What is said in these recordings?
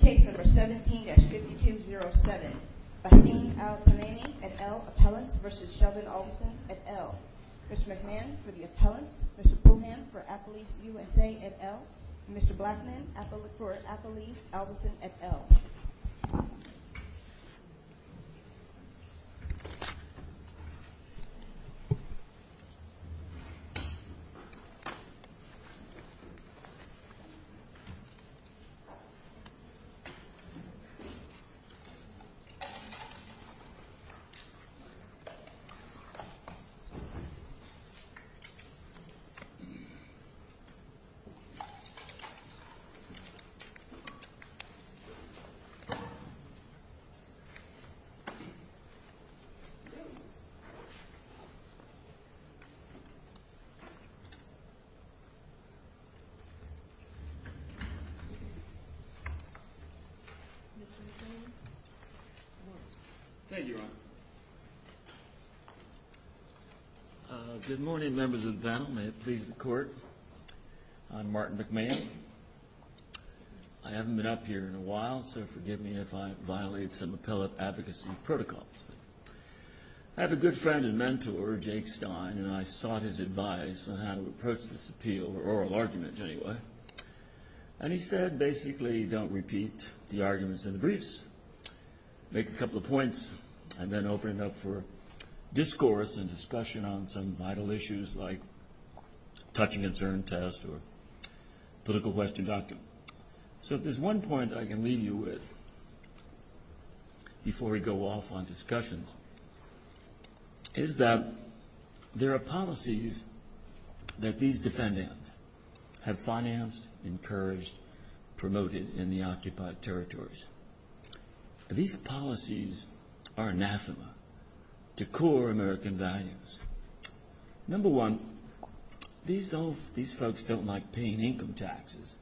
Case number 17-5207, Bassem Al-Tamimi et al. Appellants v. Sheldon Adelson et al. Mr. McMahon for the Appellants, Mr. Pullham for Appellees USA et al. Mr. Blackman for Appellees Adelson et al. Mr. Blackman for Appellees Adelson et al. Good morning, Members of the panel. May it please the Court, I'm Martin McMahon. I haven't been up here in a while, so forgive me if I violate some appellate advocacy protocols. I have a good friend and mentor, Jake Stein, and I sought his advice on how to approach this appeal, or oral argument, anyway. And he said, basically, don't repeat the arguments in the briefs. Make a couple of points, and then open it up for discourse and discussion on some vital issues, like a touching concern test or a political question document. So if there's one point I can leave you with, before we go off on discussions, is that there are policies that these defendants have financed, encouraged, promoted in the occupied territories. These policies are anathema to core American values. Number one, these folks don't like paying income taxes.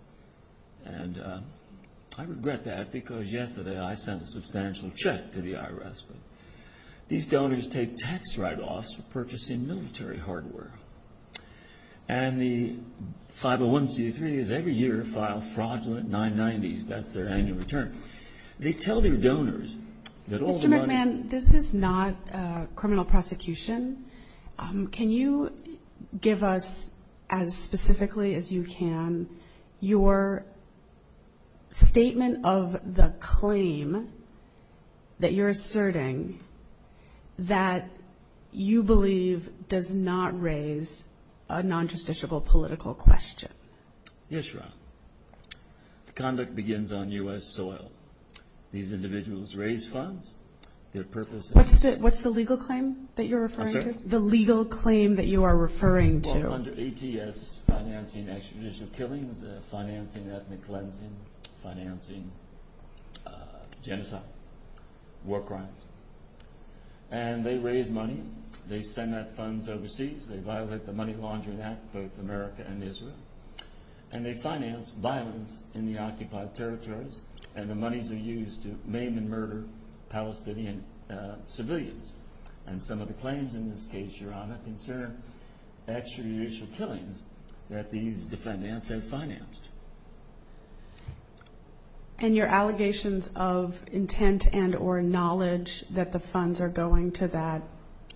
And I regret that, because yesterday I sent a substantial check to the IRS. These donors take tax write-offs for purchasing military hardware. And the 501c3s every year file fraudulent 990s. That's their annual return. They tell their donors that all the money Again, this is not a criminal prosecution. Can you give us, as specifically as you can, your statement of the claim that you're asserting that you believe does not raise a non-justiciable political question? Yes, Your Honor. Conduct begins on U.S. soil. These individuals raise funds, their purpose is What's the legal claim that you're referring to? I'm sorry? The legal claim that you are referring to. Well, under ATS, financing extradition of killings, financing ethnic cleansing, financing genocide, war crimes. And they raise money. They send that funds overseas. They violate the Money Laundering Act, both America and Israel. And they finance violence in the occupied territories. And the monies are used to maim and murder Palestinian civilians. And some of the claims in this case, Your Honor, concern extrajudicial killings that these defendants have financed. And your allegations of intent and or knowledge that the funds are going to that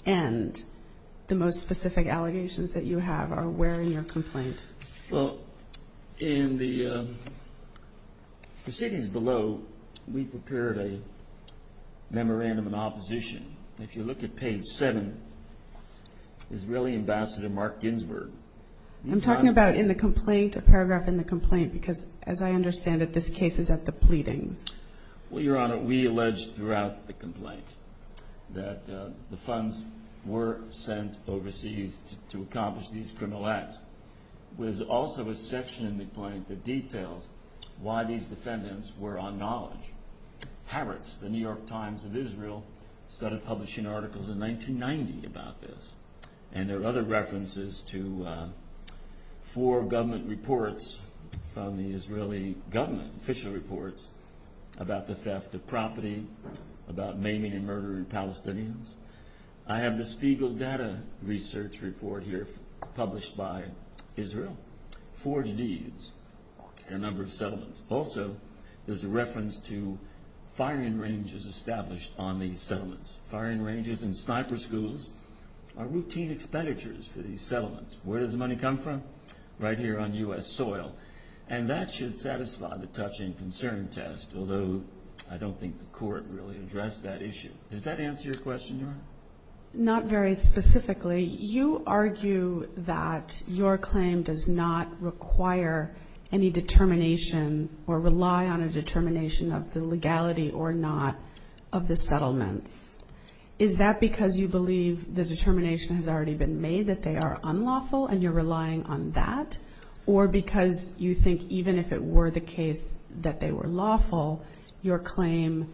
end, the most specific allegations that you have are where in your complaint? Well, in the proceedings below, we prepared a memorandum in opposition. If you look at page 7, Israeli Ambassador Mark Ginsberg. I'm talking about in the complaint, a paragraph in the complaint. Because, as I understand it, this case is at the pleadings. Well, Your Honor, we alleged throughout the complaint that the funds were sent overseas to accomplish these criminal acts. There's also a section in the complaint that details why these defendants were on knowledge. Haaretz, the New York Times of Israel, started publishing articles in 1990 about this. And there are other references to four government reports from the Israeli government, official reports, about the theft of property, about maiming and murdering Palestinians. I have the Spiegel data research report here published by Israel. Forged deeds and number of settlements. Also, there's a reference to firing ranges established on these settlements. Firing ranges and sniper schools are routine expenditures for these settlements. Where does the money come from? Right here on U.S. soil. And that should satisfy the touching concern test, although I don't think the court really addressed that issue. Does that answer your question, Your Honor? Not very specifically. You argue that your claim does not require any determination or rely on a determination of the legality or not of the settlements. Is that because you believe the determination has already been made that they are unlawful and you're relying on that? Or because you think even if it were the case that they were lawful, your claim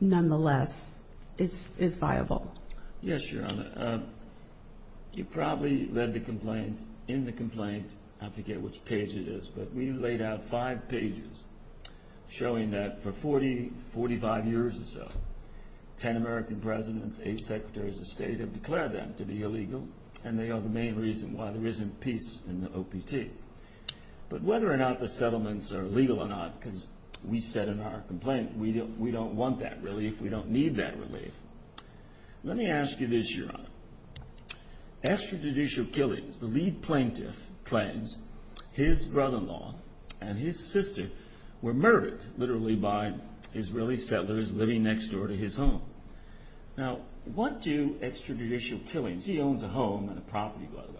nonetheless is viable? Yes, Your Honor. You probably read the complaint. In the complaint, I forget which page it is, but we laid out five pages showing that for 40, 45 years or so, ten American presidents, eight secretaries of state have declared them to be illegal, and they are the main reason why there isn't peace in the OPT. But whether or not the settlements are legal or not, because we said in our complaint, Let me ask you this, Your Honor. Extrajudicial killings, the lead plaintiff claims his brother-in-law and his sister were murdered, literally by Israeli settlers living next door to his home. Now, what do extrajudicial killings, he owns a home and a property, by the way,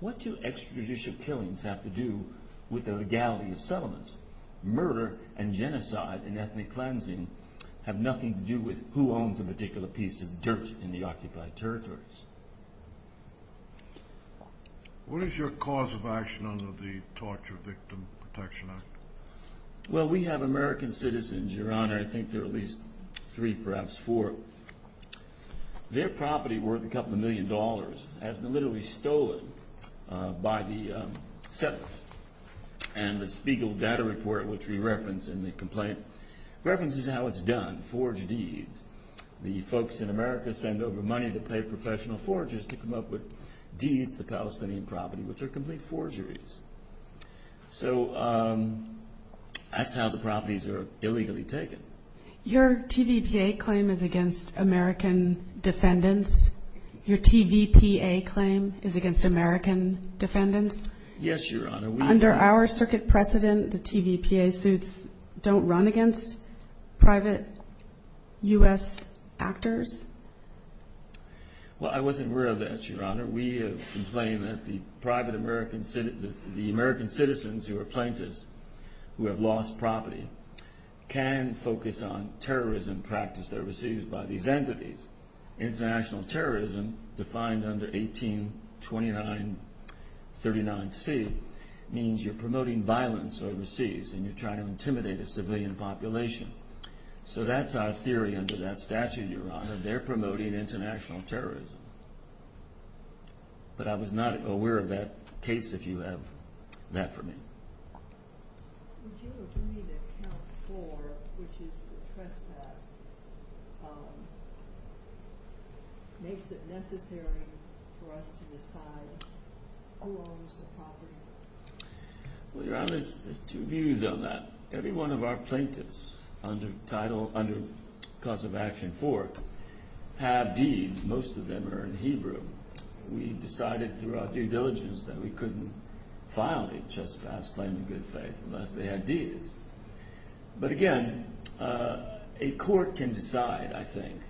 what do extrajudicial killings have to do with the legality of settlements? Murder and genocide and ethnic cleansing have nothing to do with who owns a particular piece of dirt in the occupied territories. What is your cause of action under the Torture Victim Protection Act? Well, we have American citizens, Your Honor, I think there are at least three, perhaps four. Their property worth a couple of million dollars has been literally stolen by the settlers. And the Spiegel data report, which we reference in the complaint, references how it's done, forge deeds. The folks in America send over money to pay professional forgers to come up with deeds, the Palestinian property, which are complete forgeries. So that's how the properties are illegally taken. Your TVPA claim is against American defendants? Your TVPA claim is against American defendants? Yes, Your Honor. Under our circuit precedent, the TVPA suits don't run against private U.S. actors? Well, I wasn't aware of that, Your Honor. We have complained that the American citizens who are plaintiffs, who have lost property, can focus on terrorism practice that are received by these entities. International terrorism, defined under 182939C, means you're promoting violence overseas and you're trying to intimidate a civilian population. So that's our theory under that statute, Your Honor. They're promoting international terrorism. But I was not aware of that case, if you have that for me. Would you agree that count four, which is the trespass, makes it necessary for us to decide who owns the property? Well, Your Honor, there's two views on that. Every one of our plaintiffs under cause of action four have deeds. Most of them are in Hebrew. We decided through our due diligence that we couldn't file a trespass claim in good faith unless they had deeds. But again, a court can decide, I think,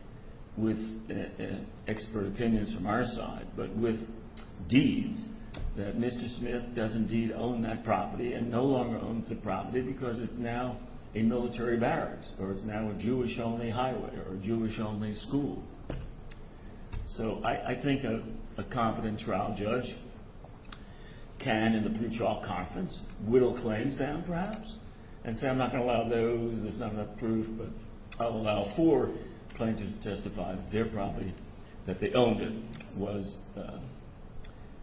with expert opinions from our side, but with deeds that Mr. Smith does indeed own that property and no longer owns the property because it's now a military barracks or it's now a Jewish-only highway or a Jewish-only school. So I think a competent trial judge can, in the pretrial conference, whittle claims down perhaps and say, I'm not going to allow those. It's not enough proof, but I'll allow four plaintiffs to testify that their property, that they owned it, was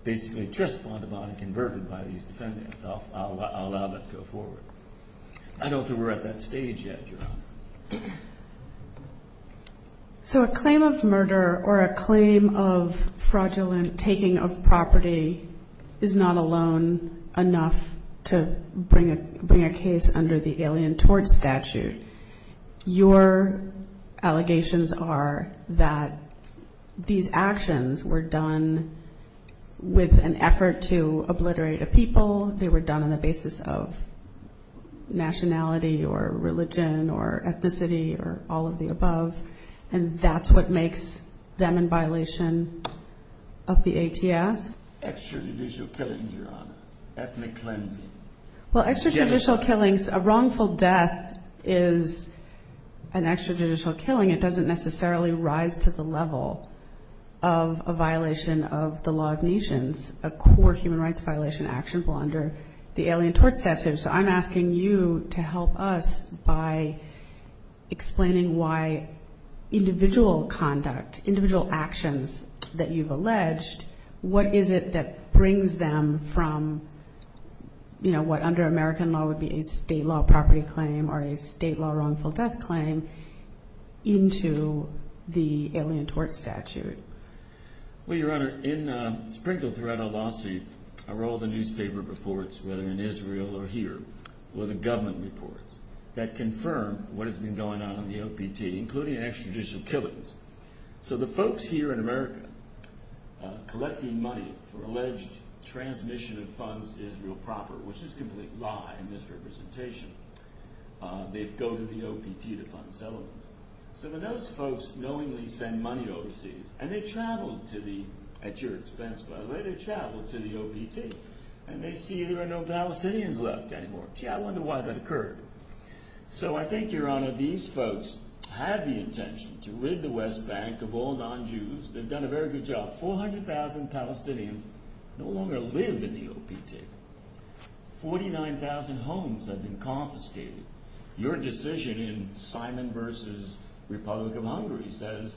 basically trespassed upon and converted by these defendants. I'll allow that to go forward. I don't think we're at that stage yet, Your Honor. So a claim of murder or a claim of fraudulent taking of property is not alone enough to bring a case under the Alien Tort Statute. Your allegations are that these actions were done with an effort to obliterate a people. They were done on the basis of nationality or religion or ethnicity or all of the above, and that's what makes them in violation of the ATS. Extrajudicial killings, Your Honor. Ethnic cleansing. Well, extrajudicial killings, a wrongful death is an extrajudicial killing. It doesn't necessarily rise to the level of a violation of the law of nations, a core human rights violation actionable under the Alien Tort Statute. So I'm asking you to help us by explaining why individual conduct, individual actions that you've alleged, what is it that brings them from what under American law would be a state law property claim or a state law wrongful death claim into the Alien Tort Statute. Well, Your Honor, in Sprinkle throughout our lawsuit are all the newspaper reports, whether in Israel or here, or the government reports that confirm what has been going on in the OPT, including extrajudicial killings. So the folks here in America collecting money for alleged transmission of funds to Israel proper, which is a complete lie and misrepresentation, they go to the OPT to fund settlements. So then those folks knowingly send money overseas, and they travel to the, at your expense by the way, they travel to the OPT, and they see there are no Palestinians left anymore. Gee, I wonder why that occurred. So I think, Your Honor, these folks had the intention to rid the West Bank of all non-Jews. They've done a very good job. 400,000 Palestinians no longer live in the OPT. 49,000 homes have been confiscated. Your decision in Simon v. Republic of Hungary says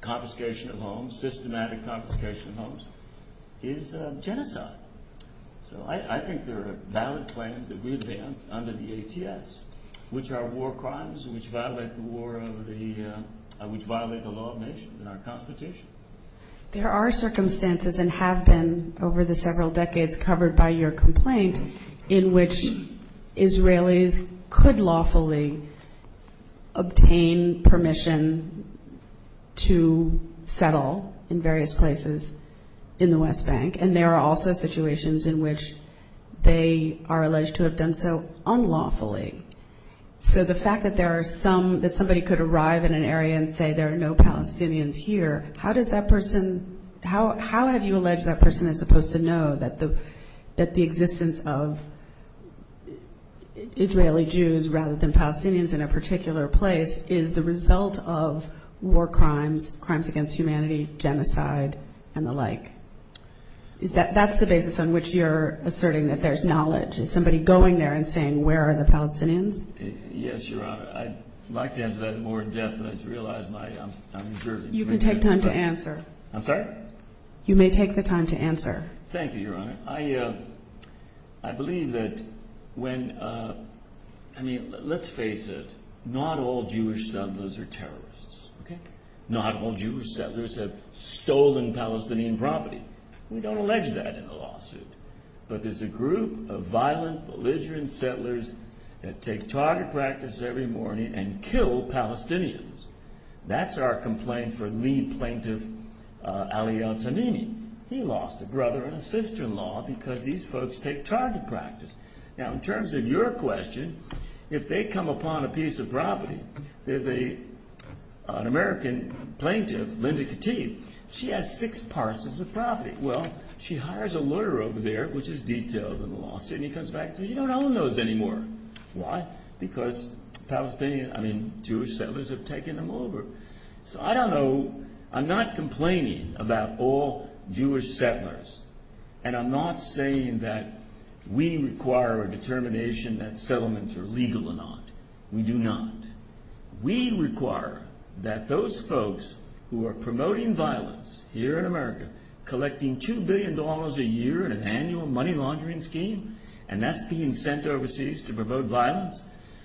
confiscation of homes, systematic confiscation of homes, is genocide. So I think there are valid claims that we advance under the ATS, which are war crimes, which violate the law of nations and our Constitution. There are circumstances and have been over the several decades covered by your complaint in which Israelis could lawfully obtain permission to settle in various places in the West Bank, and there are also situations in which they are alleged to have done so unlawfully. So the fact that there are some, that somebody could arrive in an area and say there are no Palestinians here, how does that person, how have you alleged that person is supposed to know that the existence of Israeli Jews rather than Palestinians in a particular place is the result of war crimes, crimes against humanity, genocide, and the like? That's the basis on which you're asserting that there's knowledge. Is somebody going there and saying where are the Palestinians? Yes, Your Honor. I'd like to answer that in more depth, but I realize I'm jerking. You can take time to answer. I'm sorry? You may take the time to answer. Thank you, Your Honor. I believe that when, I mean, let's face it, not all Jewish settlers are terrorists, okay? Not all Jewish settlers have stolen Palestinian property. We don't allege that in the lawsuit, but there's a group of violent, belligerent settlers that take target practice every morning and kill Palestinians. That's our complaint for lead plaintiff Ali Al-Tanini. He lost a brother and a sister-in-law because these folks take target practice. Now, in terms of your question, if they come upon a piece of property, there's an American plaintiff, Linda Katib. She has six parcels of property. Well, she hires a lawyer over there, which is detailed in the lawsuit, and he comes back and says you don't own those anymore. Why? Because Palestinian, I mean, Jewish settlers have taken them over. So I don't know. I'm not complaining about all Jewish settlers, and I'm not saying that we require a determination that settlements are legal or not. We do not. We require that those folks who are promoting violence here in America, collecting $2 billion a year in an annual money laundering scheme, and that's being sent overseas to promote violence,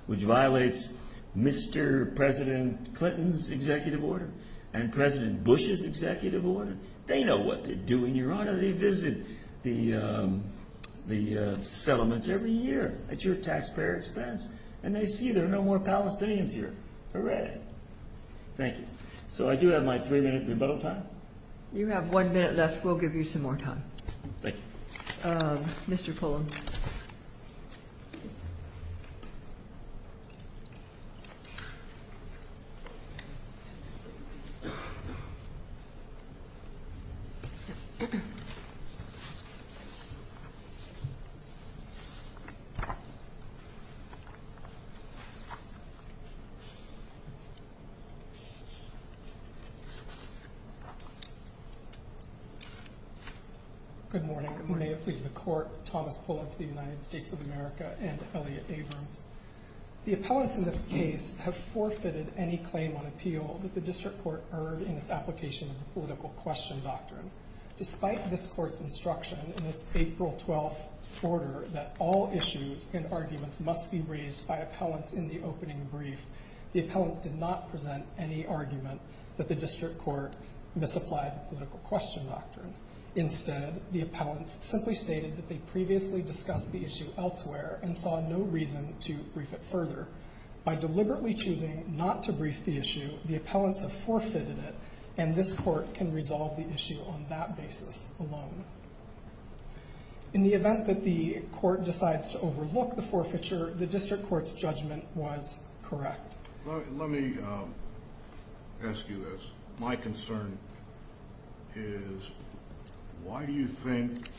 which violates Mr. President Clinton's executive order and President Bush's executive order. They know what they're doing, Your Honor. They visit the settlements every year at your taxpayer expense, and they see there are no more Palestinians here. Hooray. Thank you. So I do have my three-minute rebuttal time. You have one minute left. We'll give you some more time. Thank you. Mr. Pullen. Thank you. Good morning. Good morning. May it please the Court. Thomas Pullen for the United States of America and Elliot Abrams. The appellants in this case have forfeited any claim on appeal that the district court earned in its application of the political question doctrine. Despite this court's instruction in its April 12th order that all issues and arguments must be raised by appellants in the opening brief, the appellants did not present any argument that the district court misapplied the political question doctrine. Instead, the appellants simply stated that they previously discussed the issue elsewhere and saw no reason to brief it further. By deliberately choosing not to brief the issue, the appellants have forfeited it, and this court can resolve the issue on that basis alone. In the event that the court decides to overlook the forfeiture, the district court's judgment was correct. Let me ask you this. My concern is why do you think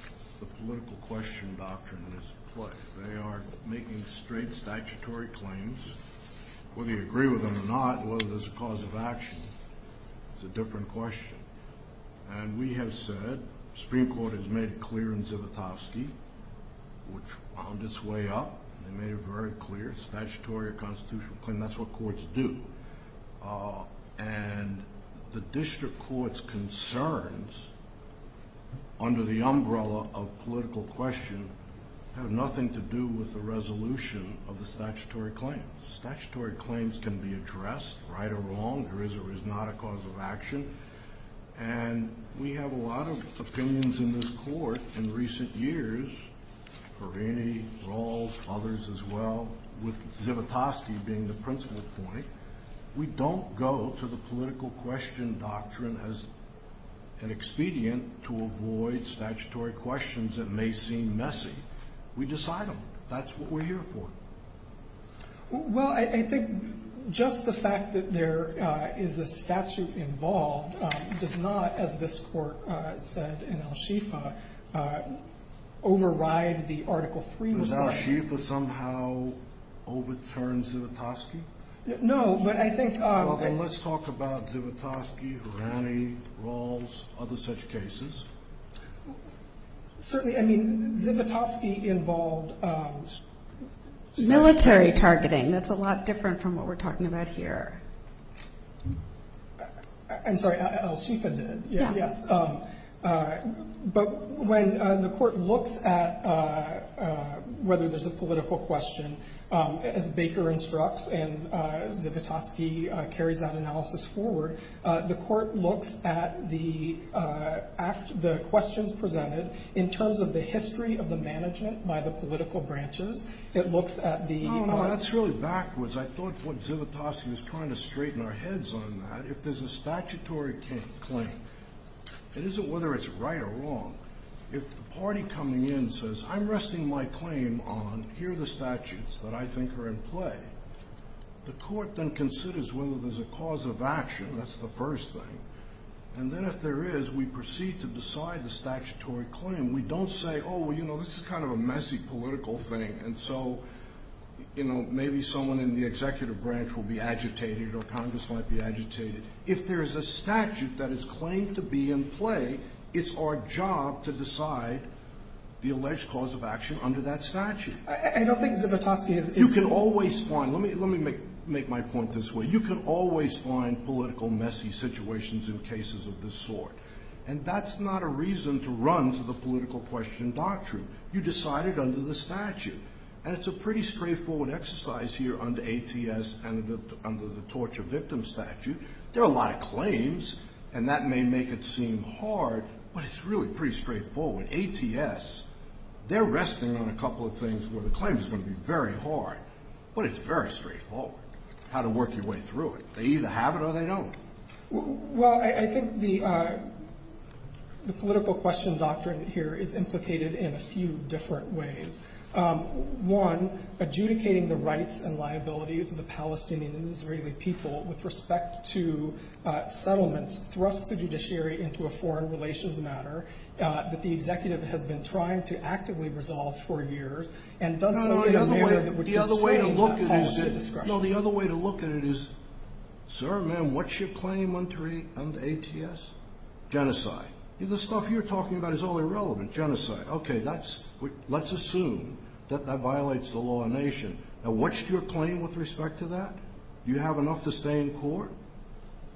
the political question doctrine is in play? They are making straight statutory claims. Whether you agree with them or not, whether there's a cause of action, it's a different question. And we have said, the Supreme Court has made it clear in Zivotofsky, which wound its way up. They made it very clear. Statutory or constitutional claim, that's what courts do. And the district court's concerns, under the umbrella of political question, have nothing to do with the resolution of the statutory claims. Statutory claims can be addressed, right or wrong, there is or is not a cause of action. And we have a lot of opinions in this court in recent years, Perrini, Rawls, others as well, with Zivotofsky being the principal point. We don't go to the political question doctrine as an expedient to avoid statutory questions that may seem messy. We decide them. That's what we're here for. Well, I think just the fact that there is a statute involved does not, as this court said in Al-Shifa, override the Article 3. Does Al-Shifa somehow overturn Zivotofsky? No, but I think... Well, then let's talk about Zivotofsky, Perrini, Rawls, other such cases. Certainly, I mean, Zivotofsky involved... Military targeting. That's a lot different from what we're talking about here. I'm sorry, Al-Shifa did. Yeah. Yes. But when the court looks at whether there's a political question, as Baker instructs and Zivotofsky carries that analysis forward, the court looks at the questions presented in terms of the history of the management by the political branches. It looks at the... No, no, that's really backwards. I thought what Zivotofsky was trying to straighten our heads on that. If there's a statutory claim, it isn't whether it's right or wrong. If the party coming in says, I'm resting my claim on here are the statutes that I think are in play, the court then considers whether there's a cause of action. That's the first thing. And then if there is, we proceed to decide the statutory claim. We don't say, oh, well, you know, this is kind of a messy political thing, and so, you know, maybe someone in the executive branch will be agitated or Congress might be agitated. If there is a statute that is claimed to be in play, it's our job to decide the alleged cause of action under that statute. I don't think Zivotofsky is... You can always find... Let me make my point this way. You can always find political messy situations in cases of this sort, and that's not a reason to run for the political question doctrine. You decide it under the statute. And it's a pretty straightforward exercise here under ATS and under the torture victim statute. There are a lot of claims, and that may make it seem hard, but it's really pretty straightforward. ATS, they're resting on a couple of things where the claim is going to be very hard, but it's very straightforward how to work your way through it. They either have it or they don't. Well, I think the political question doctrine here is implicated in a few different ways. One, adjudicating the rights and liabilities of the Palestinian and Israeli people with respect to settlements thrusts the judiciary into a foreign relations matter that the executive has been trying to actively resolve for years and does so in a manner that would constrain that policy discussion. You know, the other way to look at it is, sir, ma'am, what's your claim under ATS? Genocide. The stuff you're talking about is all irrelevant. Genocide. Okay, let's assume that that violates the law of nation. Now, what's your claim with respect to that? Do you have enough to stay in court?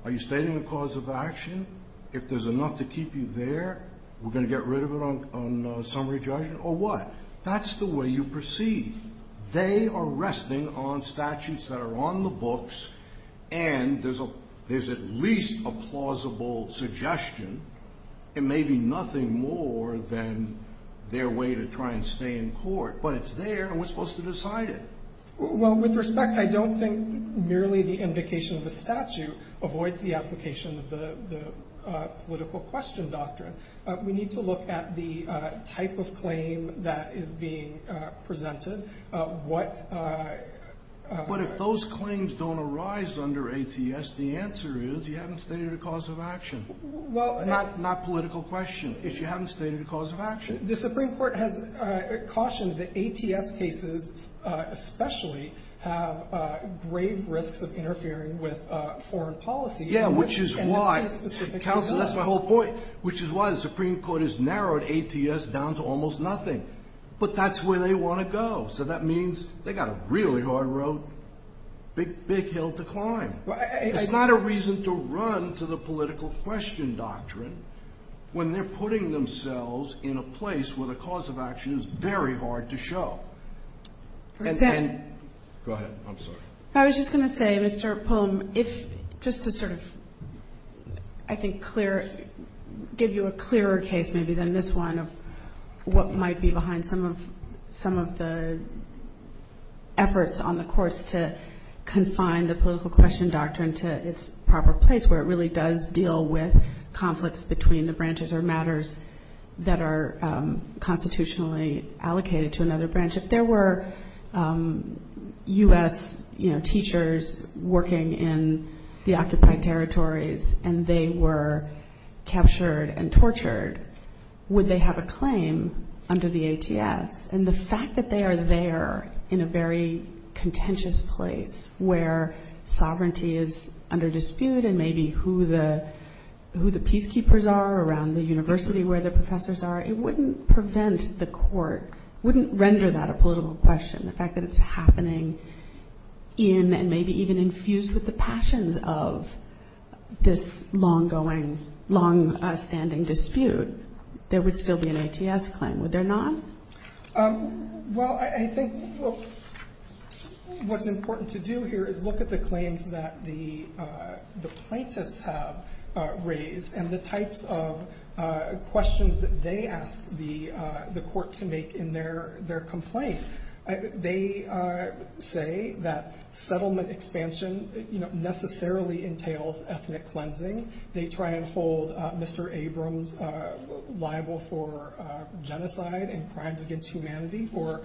Are you stating a cause of action? If there's enough to keep you there, we're going to get rid of it on summary judgment? Or what? That's the way you proceed. They are resting on statutes that are on the books, and there's at least a plausible suggestion. It may be nothing more than their way to try and stay in court, but it's there, and we're supposed to decide it. Well, with respect, I don't think merely the invocation of the statute avoids the application of the political question doctrine. We need to look at the type of claim that is being presented. What – But if those claims don't arise under ATS, the answer is you haven't stated a cause of action. Well – Not political question. If you haven't stated a cause of action. The Supreme Court has cautioned that ATS cases especially have grave risks of interfering with foreign policy. Yeah, which is why – And this is a specific case. Counsel, that's my whole point. Which is why the Supreme Court has narrowed ATS down to almost nothing. But that's where they want to go. So that means they've got a really hard road, big hill to climb. It's not a reason to run to the political question doctrine when they're putting themselves in a place where the cause of action is very hard to show. And then – Go ahead. I'm sorry. I was going to say, Mr. Polam, if – just to sort of I think clear – give you a clearer case maybe than this one of what might be behind some of the efforts on the courts to confine the political question doctrine to its proper place where it really does deal with conflicts between the branches or matters that are constitutionally allocated to another branch. If there were U.S. teachers working in the occupied territories and they were captured and tortured, would they have a claim under the ATS? And the fact that they are there in a very contentious place where sovereignty is under dispute and maybe who the peacekeepers are around the university where the professors are, it wouldn't prevent the court – wouldn't render that a political question, the fact that it's happening in and maybe even infused with the passions of this long-going, long-standing dispute. There would still be an ATS claim, would there not? Well, I think what's important to do here is look at the claims that the plaintiffs have raised and the types of questions that they ask the court to make in their complaint. They say that settlement expansion necessarily entails ethnic cleansing. They try and hold Mr. Abrams liable for genocide and crimes against humanity for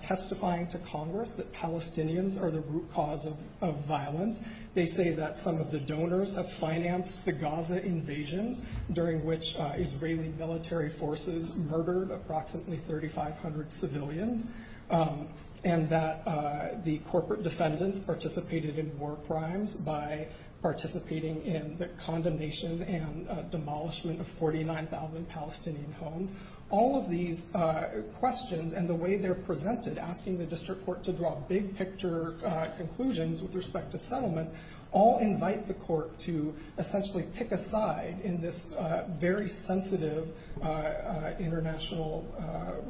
testifying to Congress that Palestinians are the root cause of violence. They say that some of the donors have financed the Gaza invasions during which Israeli military forces murdered approximately 3,500 civilians and that the corporate defendants participated in war crimes by participating in the condemnation and demolishment of 49,000 Palestinian homes. All of these questions and the way they're presented, asking the district court to draw big-picture conclusions with respect to settlements, all invite the court to essentially pick a side in this very sensitive international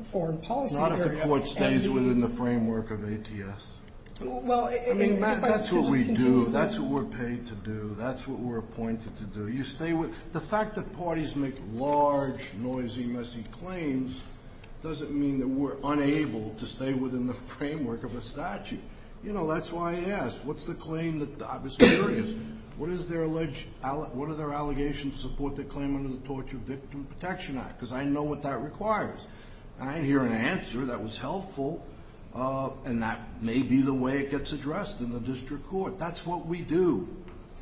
foreign policy area. Not if the court stays within the framework of ATS. I mean, Matt, that's what we do. That's what we're paid to do. That's what we're appointed to do. The fact that parties make large, noisy, messy claims doesn't mean that we're unable to stay within the framework of a statute. You know, that's why I asked, what's the claim that I was curious, what are their allegations to support their claim under the Torture Victim Protection Act? Because I know what that requires. I didn't hear an answer that was helpful, and that may be the way it gets addressed in the district court. That's what we do.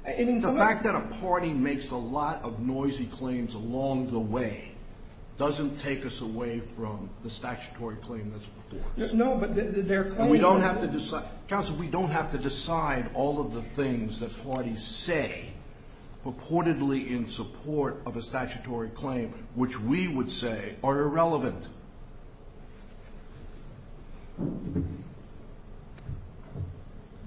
The fact that a party makes a lot of noisy claims along the way doesn't take us away from the statutory claim that's before us. No, but their claims are... And we don't have to decide. Counsel, we don't have to decide all of the things that parties say purportedly in support of a statutory claim which we would say are irrelevant.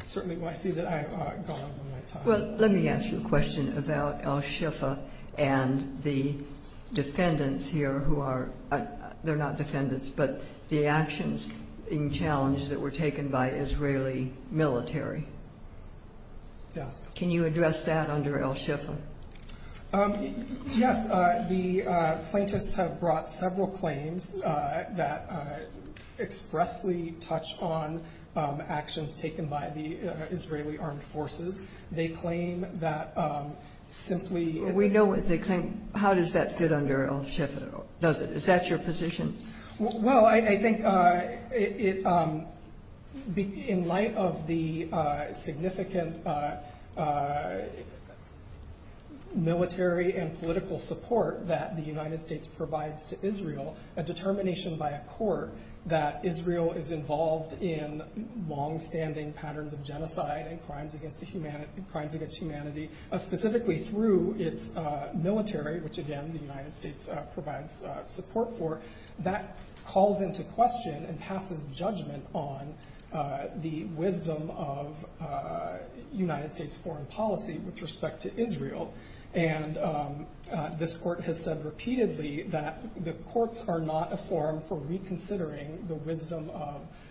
Certainly, I see that I have gone over my time. Well, let me ask you a question about Al-Shifa and the defendants here who are not defendants, but the actions in challenge that were taken by Israeli military. Yes. Can you address that under Al-Shifa? Yes. The plaintiffs have brought several claims that expressly touch on actions taken by the Israeli armed forces. They claim that simply... We know what they claim. How does that fit under Al-Shifa? Is that your position? Well, I think in light of the significant military and political support that the United States provides to Israel, a determination by a court that Israel is involved in longstanding patterns of genocide and crimes against humanity, specifically through its military, which, again, the United States provides support for, that calls into question and passes judgment on the wisdom of United States foreign policy with respect to Israel. And this court has said repeatedly that the courts are not a forum for reconsidering the wisdom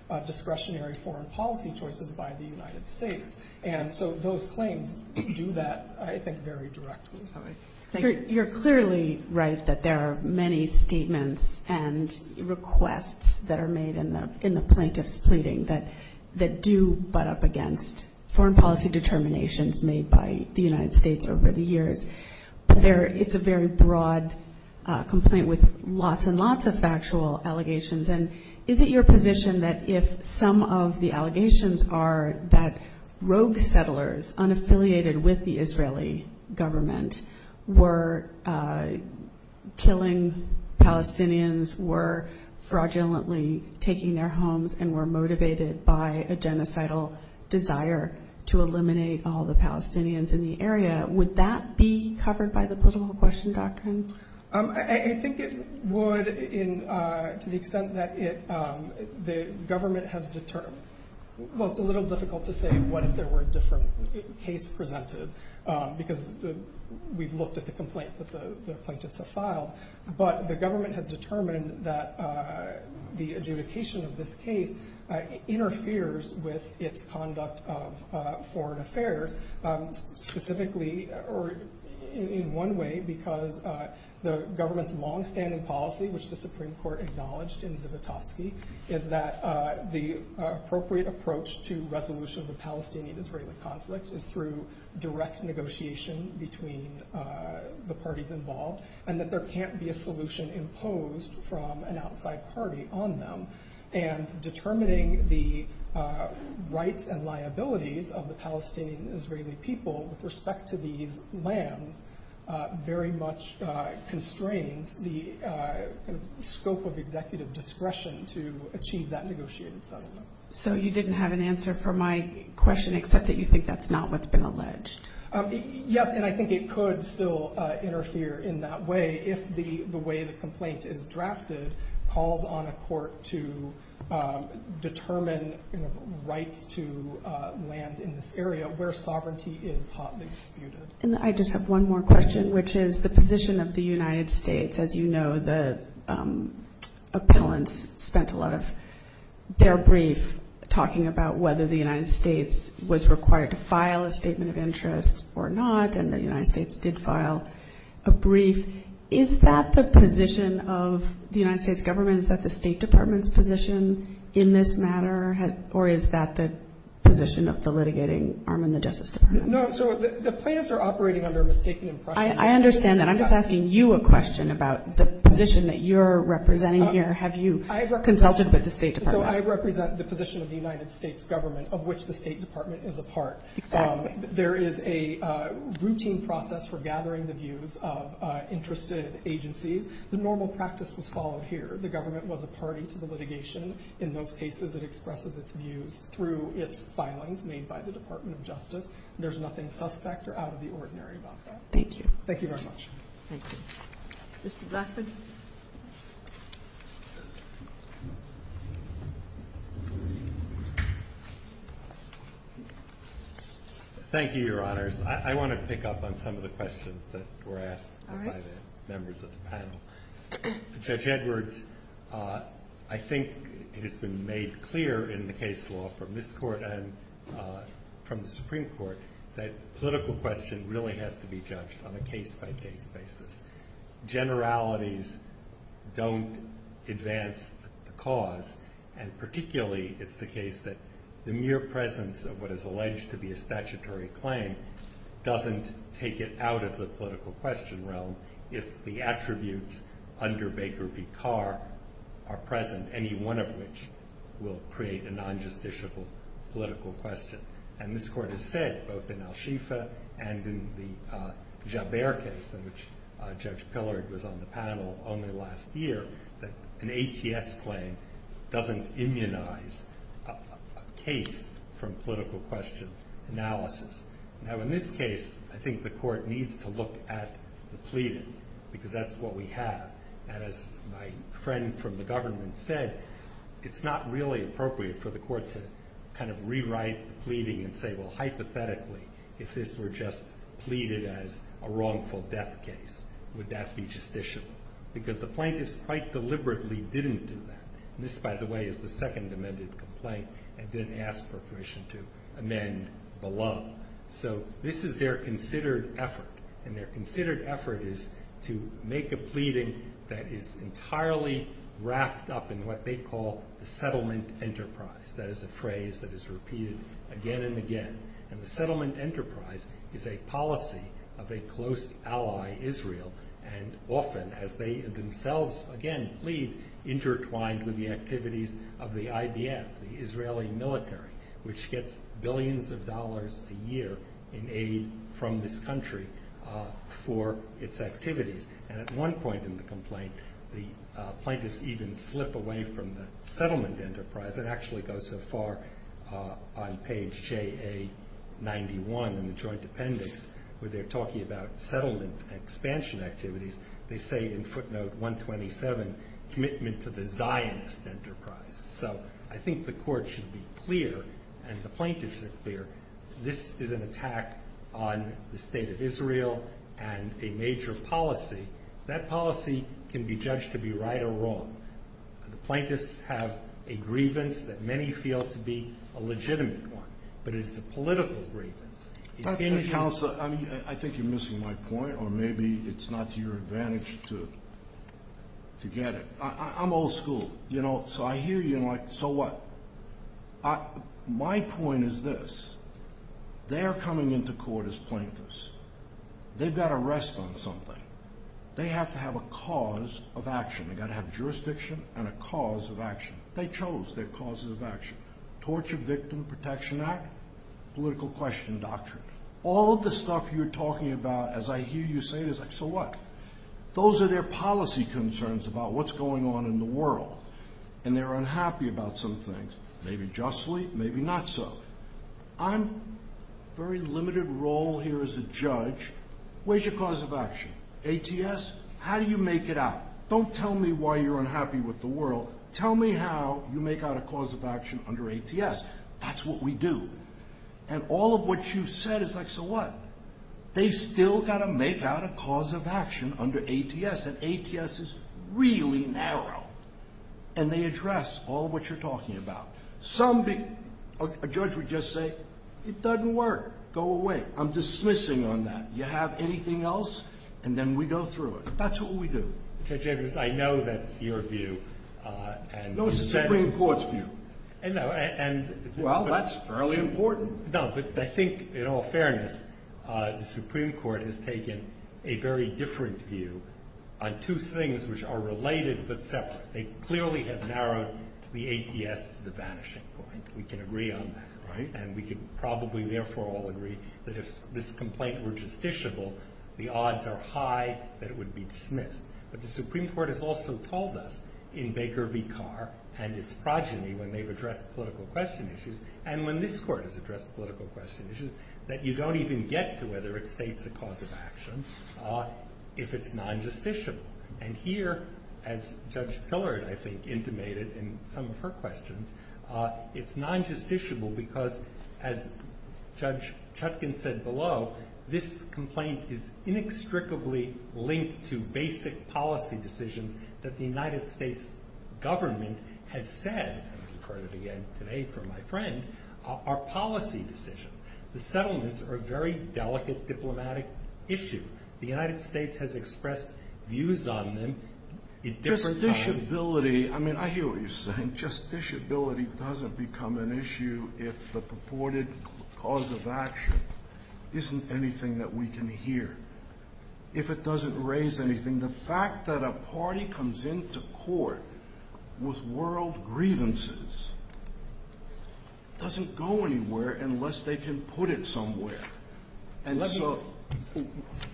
of discretionary foreign policy choices by the United States. And so those claims do that, I think, very directly. You're clearly right that there are many statements and requests that are made in the plaintiffs' pleading that do butt up against foreign policy determinations made by the United States over the years. But it's a very broad complaint with lots and lots of factual allegations. And is it your position that if some of the allegations are that rogue settlers unaffiliated with the Israeli government were killing Palestinians, were fraudulently taking their homes, and were motivated by a genocidal desire to eliminate all the Palestinians in the area, would that be covered by the political question doctrine? I think it would to the extent that the government has determined. Well, it's a little difficult to say what if there were a different case presented, because we've looked at the complaint that the plaintiffs have filed. But the government has determined that the adjudication of this case interferes with its conduct of foreign affairs, specifically, or in one way, because the government's longstanding policy, which the Supreme Court acknowledged in Zivotofsky, is that the appropriate approach to resolution of the Palestinian-Israeli conflict is through direct negotiation between the parties involved, and that there can't be a solution imposed from an outside party on them. And determining the rights and liabilities of the Palestinian-Israeli people with respect to these lands very much constrains the scope of executive discretion to achieve that negotiated settlement. So you didn't have an answer for my question, except that you think that's not what's been alleged? Yes, and I think it could still interfere in that way if the way the complaint is drafted calls on a court to determine rights to land in this area where sovereignty is hotly disputed. And I just have one more question, which is the position of the United States. As you know, the appellants spent a lot of their brief talking about whether the United States was required to file a statement of interest or not, and the United States did file a brief. Is that the position of the United States government? Is that the State Department's position in this matter? Or is that the position of the litigating arm in the Justice Department? No, so the plaintiffs are operating under a mistaken impression. I understand that. I'm just asking you a question about the position that you're representing here. Have you consulted with the State Department? So I represent the position of the United States government, of which the State Department is a part. Exactly. There is a routine process for gathering the views of interested agencies. The normal practice was followed here. The government was a party to the litigation. In those cases, it expresses its views through its filings made by the Department of Justice. There's nothing suspect or out of the ordinary about that. Thank you. Thank you very much. Thank you. Mr. Blackman? Thank you, Your Honors. I want to pick up on some of the questions that were asked by the members of the panel. Judge Edwards, I think it has been made clear in the case law from this Court and from the Supreme Court that political question really has to be judged on a case-by- case basis. Generalities don't advance the cause, and particularly it's the case that the mere presence of what is alleged to be a statutory claim doesn't take it out of the political question realm if the attributes under Baker v. Carr are present, any one of which will create a non-justiciable political question. And this Court has said, both in Al-Shifa and in the Jaber case in which Judge Pillard was on the panel only last year, that an ATS claim doesn't immunize a case from political question analysis. Now, in this case, I think the Court needs to look at the pleading because that's what we have. And as my friend from the government said, it's not really appropriate for the pleading and say, well, hypothetically, if this were just pleaded as a wrongful death case, would that be justiciable? Because the plaintiffs quite deliberately didn't do that. And this, by the way, is the second amended complaint and didn't ask for permission to amend below. So this is their considered effort, and their considered effort is to make a pleading that is entirely wrapped up in what they call the settlement enterprise. That is a phrase that is repeated again and again. And the settlement enterprise is a policy of a close ally, Israel, and often, as they themselves, again, plead, intertwined with the activities of the IDF, the Israeli military, which gets billions of dollars a year in aid from this country for its activities. And at one point in the complaint, the plaintiffs even slip away from the settlement enterprise. It actually goes so far on page JA91 in the joint appendix where they're talking about settlement expansion activities. They say in footnote 127, commitment to the Zionist enterprise. So I think the court should be clear, and the plaintiffs are clear, this is an attack on the state of Israel and a major policy. That policy can be judged to be right or wrong. The plaintiffs have a grievance that many feel to be a legitimate one, but it's a political grievance. Counselor, I think you're missing my point, or maybe it's not to your advantage to get it. I'm old school, you know, so I hear you and I'm like, so what? My point is this. They're coming into court as plaintiffs. They've got to rest on something. They have to have a cause of action. They've got to have jurisdiction and a cause of action. They chose their cause of action. Torture Victim Protection Act, political question doctrine. All of the stuff you're talking about, as I hear you say it, is like, so what? Those are their policy concerns about what's going on in the world, and they're unhappy about some things. Maybe justly, maybe not so. I'm a very limited role here as a judge. Where's your cause of action? ATS? How do you make it out? Don't tell me why you're unhappy with the world. Tell me how you make out a cause of action under ATS. That's what we do. And all of what you've said is like, so what? They've still got to make out a cause of action under ATS, and ATS is really narrow, and they address all of what you're talking about. A judge would just say, it doesn't work. Go away. I'm dismissing on that. You have anything else, and then we go through it. That's what we do. Judge Abrams, I know that's your view. No, it's the Supreme Court's view. Well, that's fairly important. No, but I think, in all fairness, the Supreme Court has taken a very different view on two things which are related but separate. They clearly have narrowed the ATS to the vanishing point. We can agree on that, and we can probably, therefore, all agree that if this Supreme Court has also told us in Baker v. Carr and its progeny when they've addressed political question issues, and when this court has addressed political question issues, that you don't even get to whether it states a cause of action if it's non-justiciable. And here, as Judge Pillard, I think, intimated in some of her questions, it's non-justiciable because, as Judge Chutkin said below, this complaint is inextricably linked to basic policy decisions that the United States government has said, and I've heard it again today from my friend, are policy decisions. The settlements are a very delicate diplomatic issue. The United States has expressed views on them at different times. Justiciability, I mean, I hear what you're saying. Justiciability doesn't become an issue if the purported cause of action isn't anything that we can hear. If it doesn't raise anything, the fact that a party comes into court with world grievances doesn't go anywhere unless they can put it somewhere. And so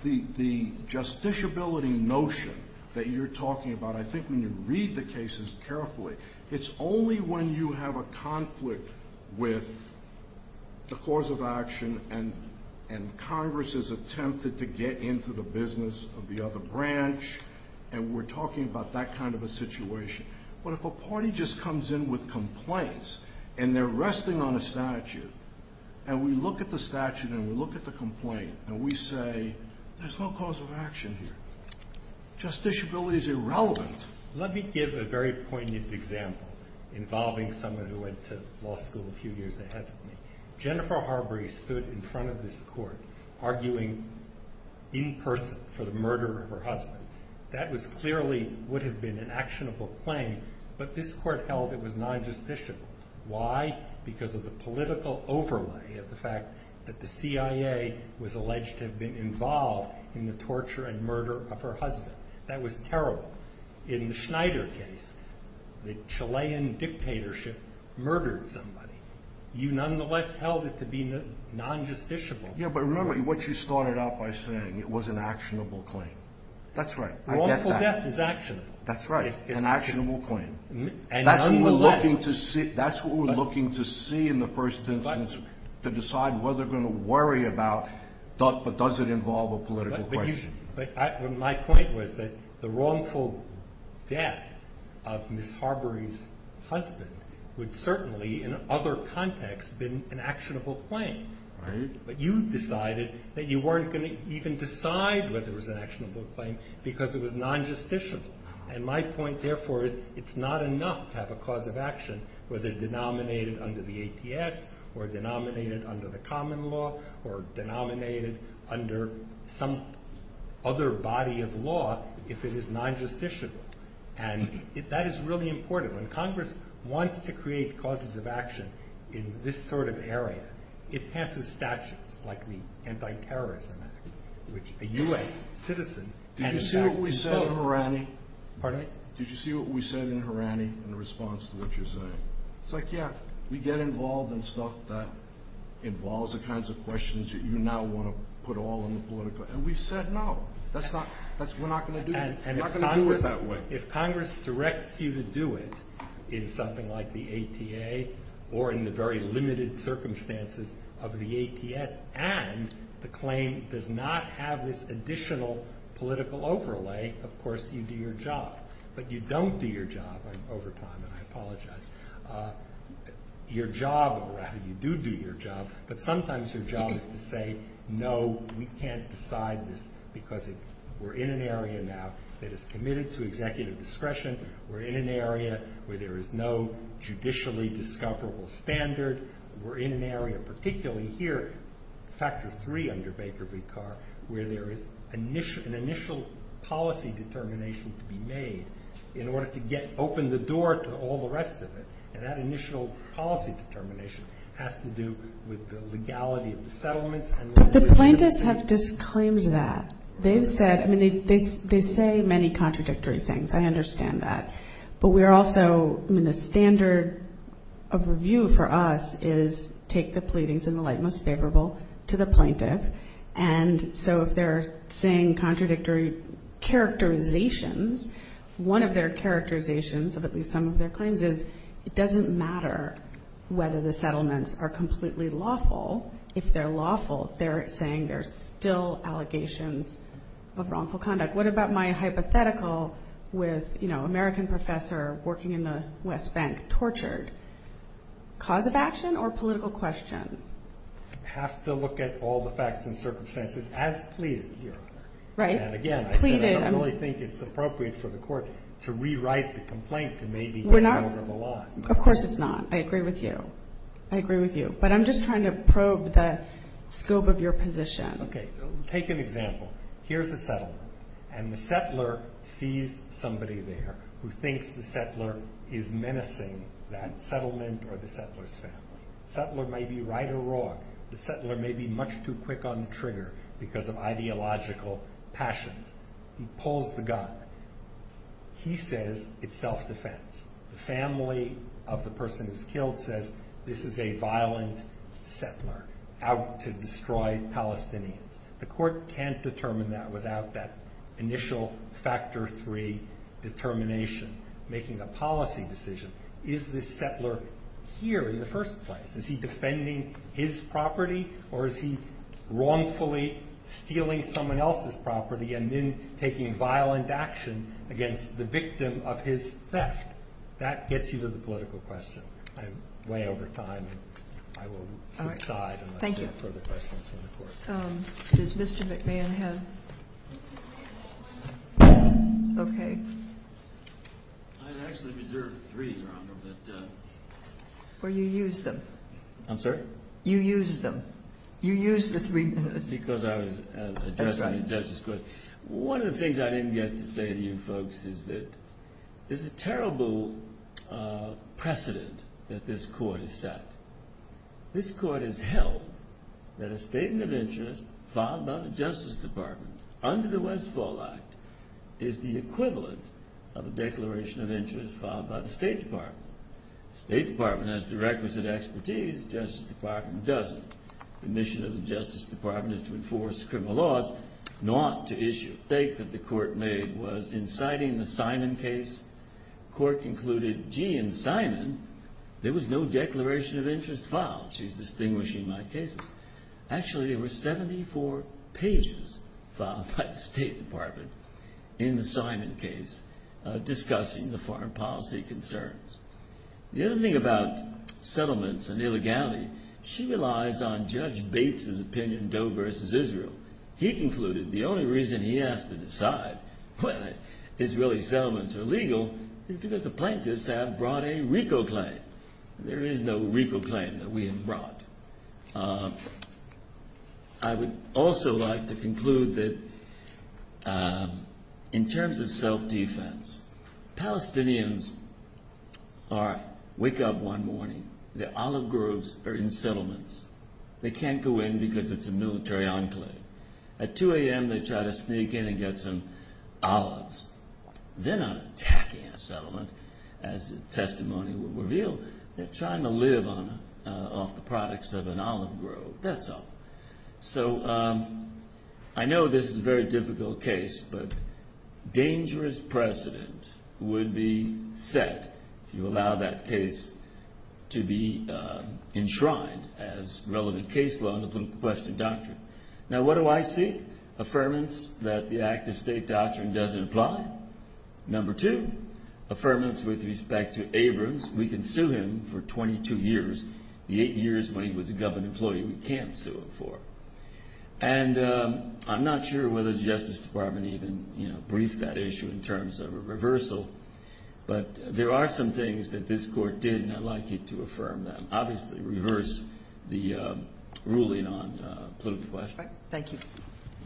the justiciability notion that you're talking about, I think when you read the cases carefully, it's only when you have a conflict with the cause of action and Congress has attempted to get into the business of the other branch and we're talking about that kind of a situation. But if a party just comes in with complaints and they're resting on a statute and we look at the statute and we look at the complaint and we say there's no cause of action here, justiciability is irrelevant. Let me give a very poignant example involving someone who went to law school a few years ahead of me. Jennifer Harbury stood in front of this court arguing in person for the murder of her husband. That clearly would have been an actionable claim, but this court held it was not justiciable. Why? Because of the political overlay of the fact that the CIA was alleged to have been involved in the torture and murder of her husband. That was terrible. In the Schneider case, the Chilean dictatorship murdered somebody. You nonetheless held it to be non-justiciable. Yeah, but remember what you started out by saying, it was an actionable claim. That's right. I get that. Wrongful death is actionable. That's right. An actionable claim. And nonetheless. That's what we're looking to see in the first instance to decide whether they're going to worry about does it involve a political question. My point was that the wrongful death of Ms. Harbury's husband would certainly, in other contexts, have been an actionable claim. Right. But you decided that you weren't going to even decide whether it was an actionable claim because it was non-justiciable. And my point, therefore, is it's not enough to have a cause of action whether denominated under the ATS or denominated under the common law or denominated under some other body of law if it is non-justiciable. And that is really important. When Congress wants to create causes of action in this sort of area, it passes statutes like the Anti-Terrorism Act, which a U.S. citizen has to fill. Did you see what we said in Harani? Pardon me? Did you see what we said in Harani in response to what you're saying? It's like, yeah, we get involved in stuff that involves the kinds of questions that you now want to put all in the political. And we've said no. We're not going to do it that way. If Congress directs you to do it in something like the ATA or in the very limited circumstances of the ATS and the claim does not have this additional political overlay, of course, you do your job. But you don't do your job. I'm over time, and I apologize. You do do your job, but sometimes your job is to say, no, we can't decide this because we're in an area now that is committed to executive discretion. We're in an area where there is no judicially discoverable standard. We're in an area, particularly here, factor three under Baker v. Carr, where there is an initial policy determination to be made in order to open the door to all the rest of it. And that initial policy determination has to do with the legality of the settlements. But the plaintiffs have disclaimed that. They've said, I mean, they say many contradictory things. I understand that. But we're also, I mean, the standard of review for us is take the pleadings in the light most favorable to the plaintiff. And so if they're saying contradictory characterizations, one of their characterizations of at least some of their claims is it doesn't matter whether the settlements are completely lawful. If they're lawful, they're saying there's still allegations of wrongful conduct. What about my hypothetical with, you know, American professor working in the West Bank tortured? Cause of action or political question? Have to look at all the facts and circumstances, as pleaded here. Right. And again, I said I don't really think it's appropriate for the court to rewrite the complaint to maybe get it over the line. Of course it's not. I agree with you. I agree with you. But I'm just trying to probe the scope of your position. Okay. Take an example. Here's a settlement. And the settler sees somebody there who thinks the settler is menacing that settlement or the settler's family. The settler may be right or wrong. The settler may be much too quick on the trigger because of ideological passions. He pulls the gun. He says it's self-defense. The family of the person who's killed says this is a violent settler out to destroy Palestinians. The court can't determine that without that initial factor three determination, making a policy decision. Is this settler here in the first place? Is he defending his property or is he wrongfully stealing someone else's property and then taking violent action against the victim of his theft? That gets you to the political question. I'm way over time and I will subside unless there are further questions from the court. Does Mr. McMahon have? Okay. I'd actually reserve three, Your Honor. Well, you used them. I'm sorry? You used them. You used the three minutes. Because I was addressing the judge's question. One of the things I didn't get to say to you folks is that there's a terrible precedent that this court has set. This court has held that a statement of interest filed by the Justice Department under the Westfall Act is the equivalent of a declaration of interest filed by the State Department. The State Department has the requisite expertise. The Justice Department doesn't. The mission of the Justice Department is to enforce criminal laws, not to issue. The statement the court made was inciting the Simon case. The court concluded, gee, in Simon, there was no declaration of interest filed. She's distinguishing my cases. Actually, there were 74 pages filed by the State Department in the Simon case discussing the foreign policy concerns. The other thing about settlements and illegality, she relies on Judge Bates' opinion, Doe versus Israel. He concluded the only reason he has to decide whether Israeli settlements are legal is because the plaintiffs have brought a RICO claim. There is no RICO claim that we have brought. I would also like to conclude that in terms of self-defense, Palestinians wake up one morning, their olive groves are in settlements. They can't go in because it's a military enclave. At 2 a.m., they try to sneak in and get some olives. They're not attacking a settlement, as the testimony will reveal. They're trying to live off the products of an olive grove. That's all. So I know this is a very difficult case, but dangerous precedent would be set if you allow that case to be enshrined as relevant case law in the political question doctrine. Now, what do I see? Affirmance that the active state doctrine doesn't apply. Number two, affirmance with respect to Abrams. We can sue him for 22 years. The eight years when he was a government employee, we can't sue him for. And I'm not sure whether the Justice Department even briefed that issue in terms of a reversal, but there are some things that this court did, and I'd like you to affirm them. Obviously, reverse the ruling on political question. Thank you.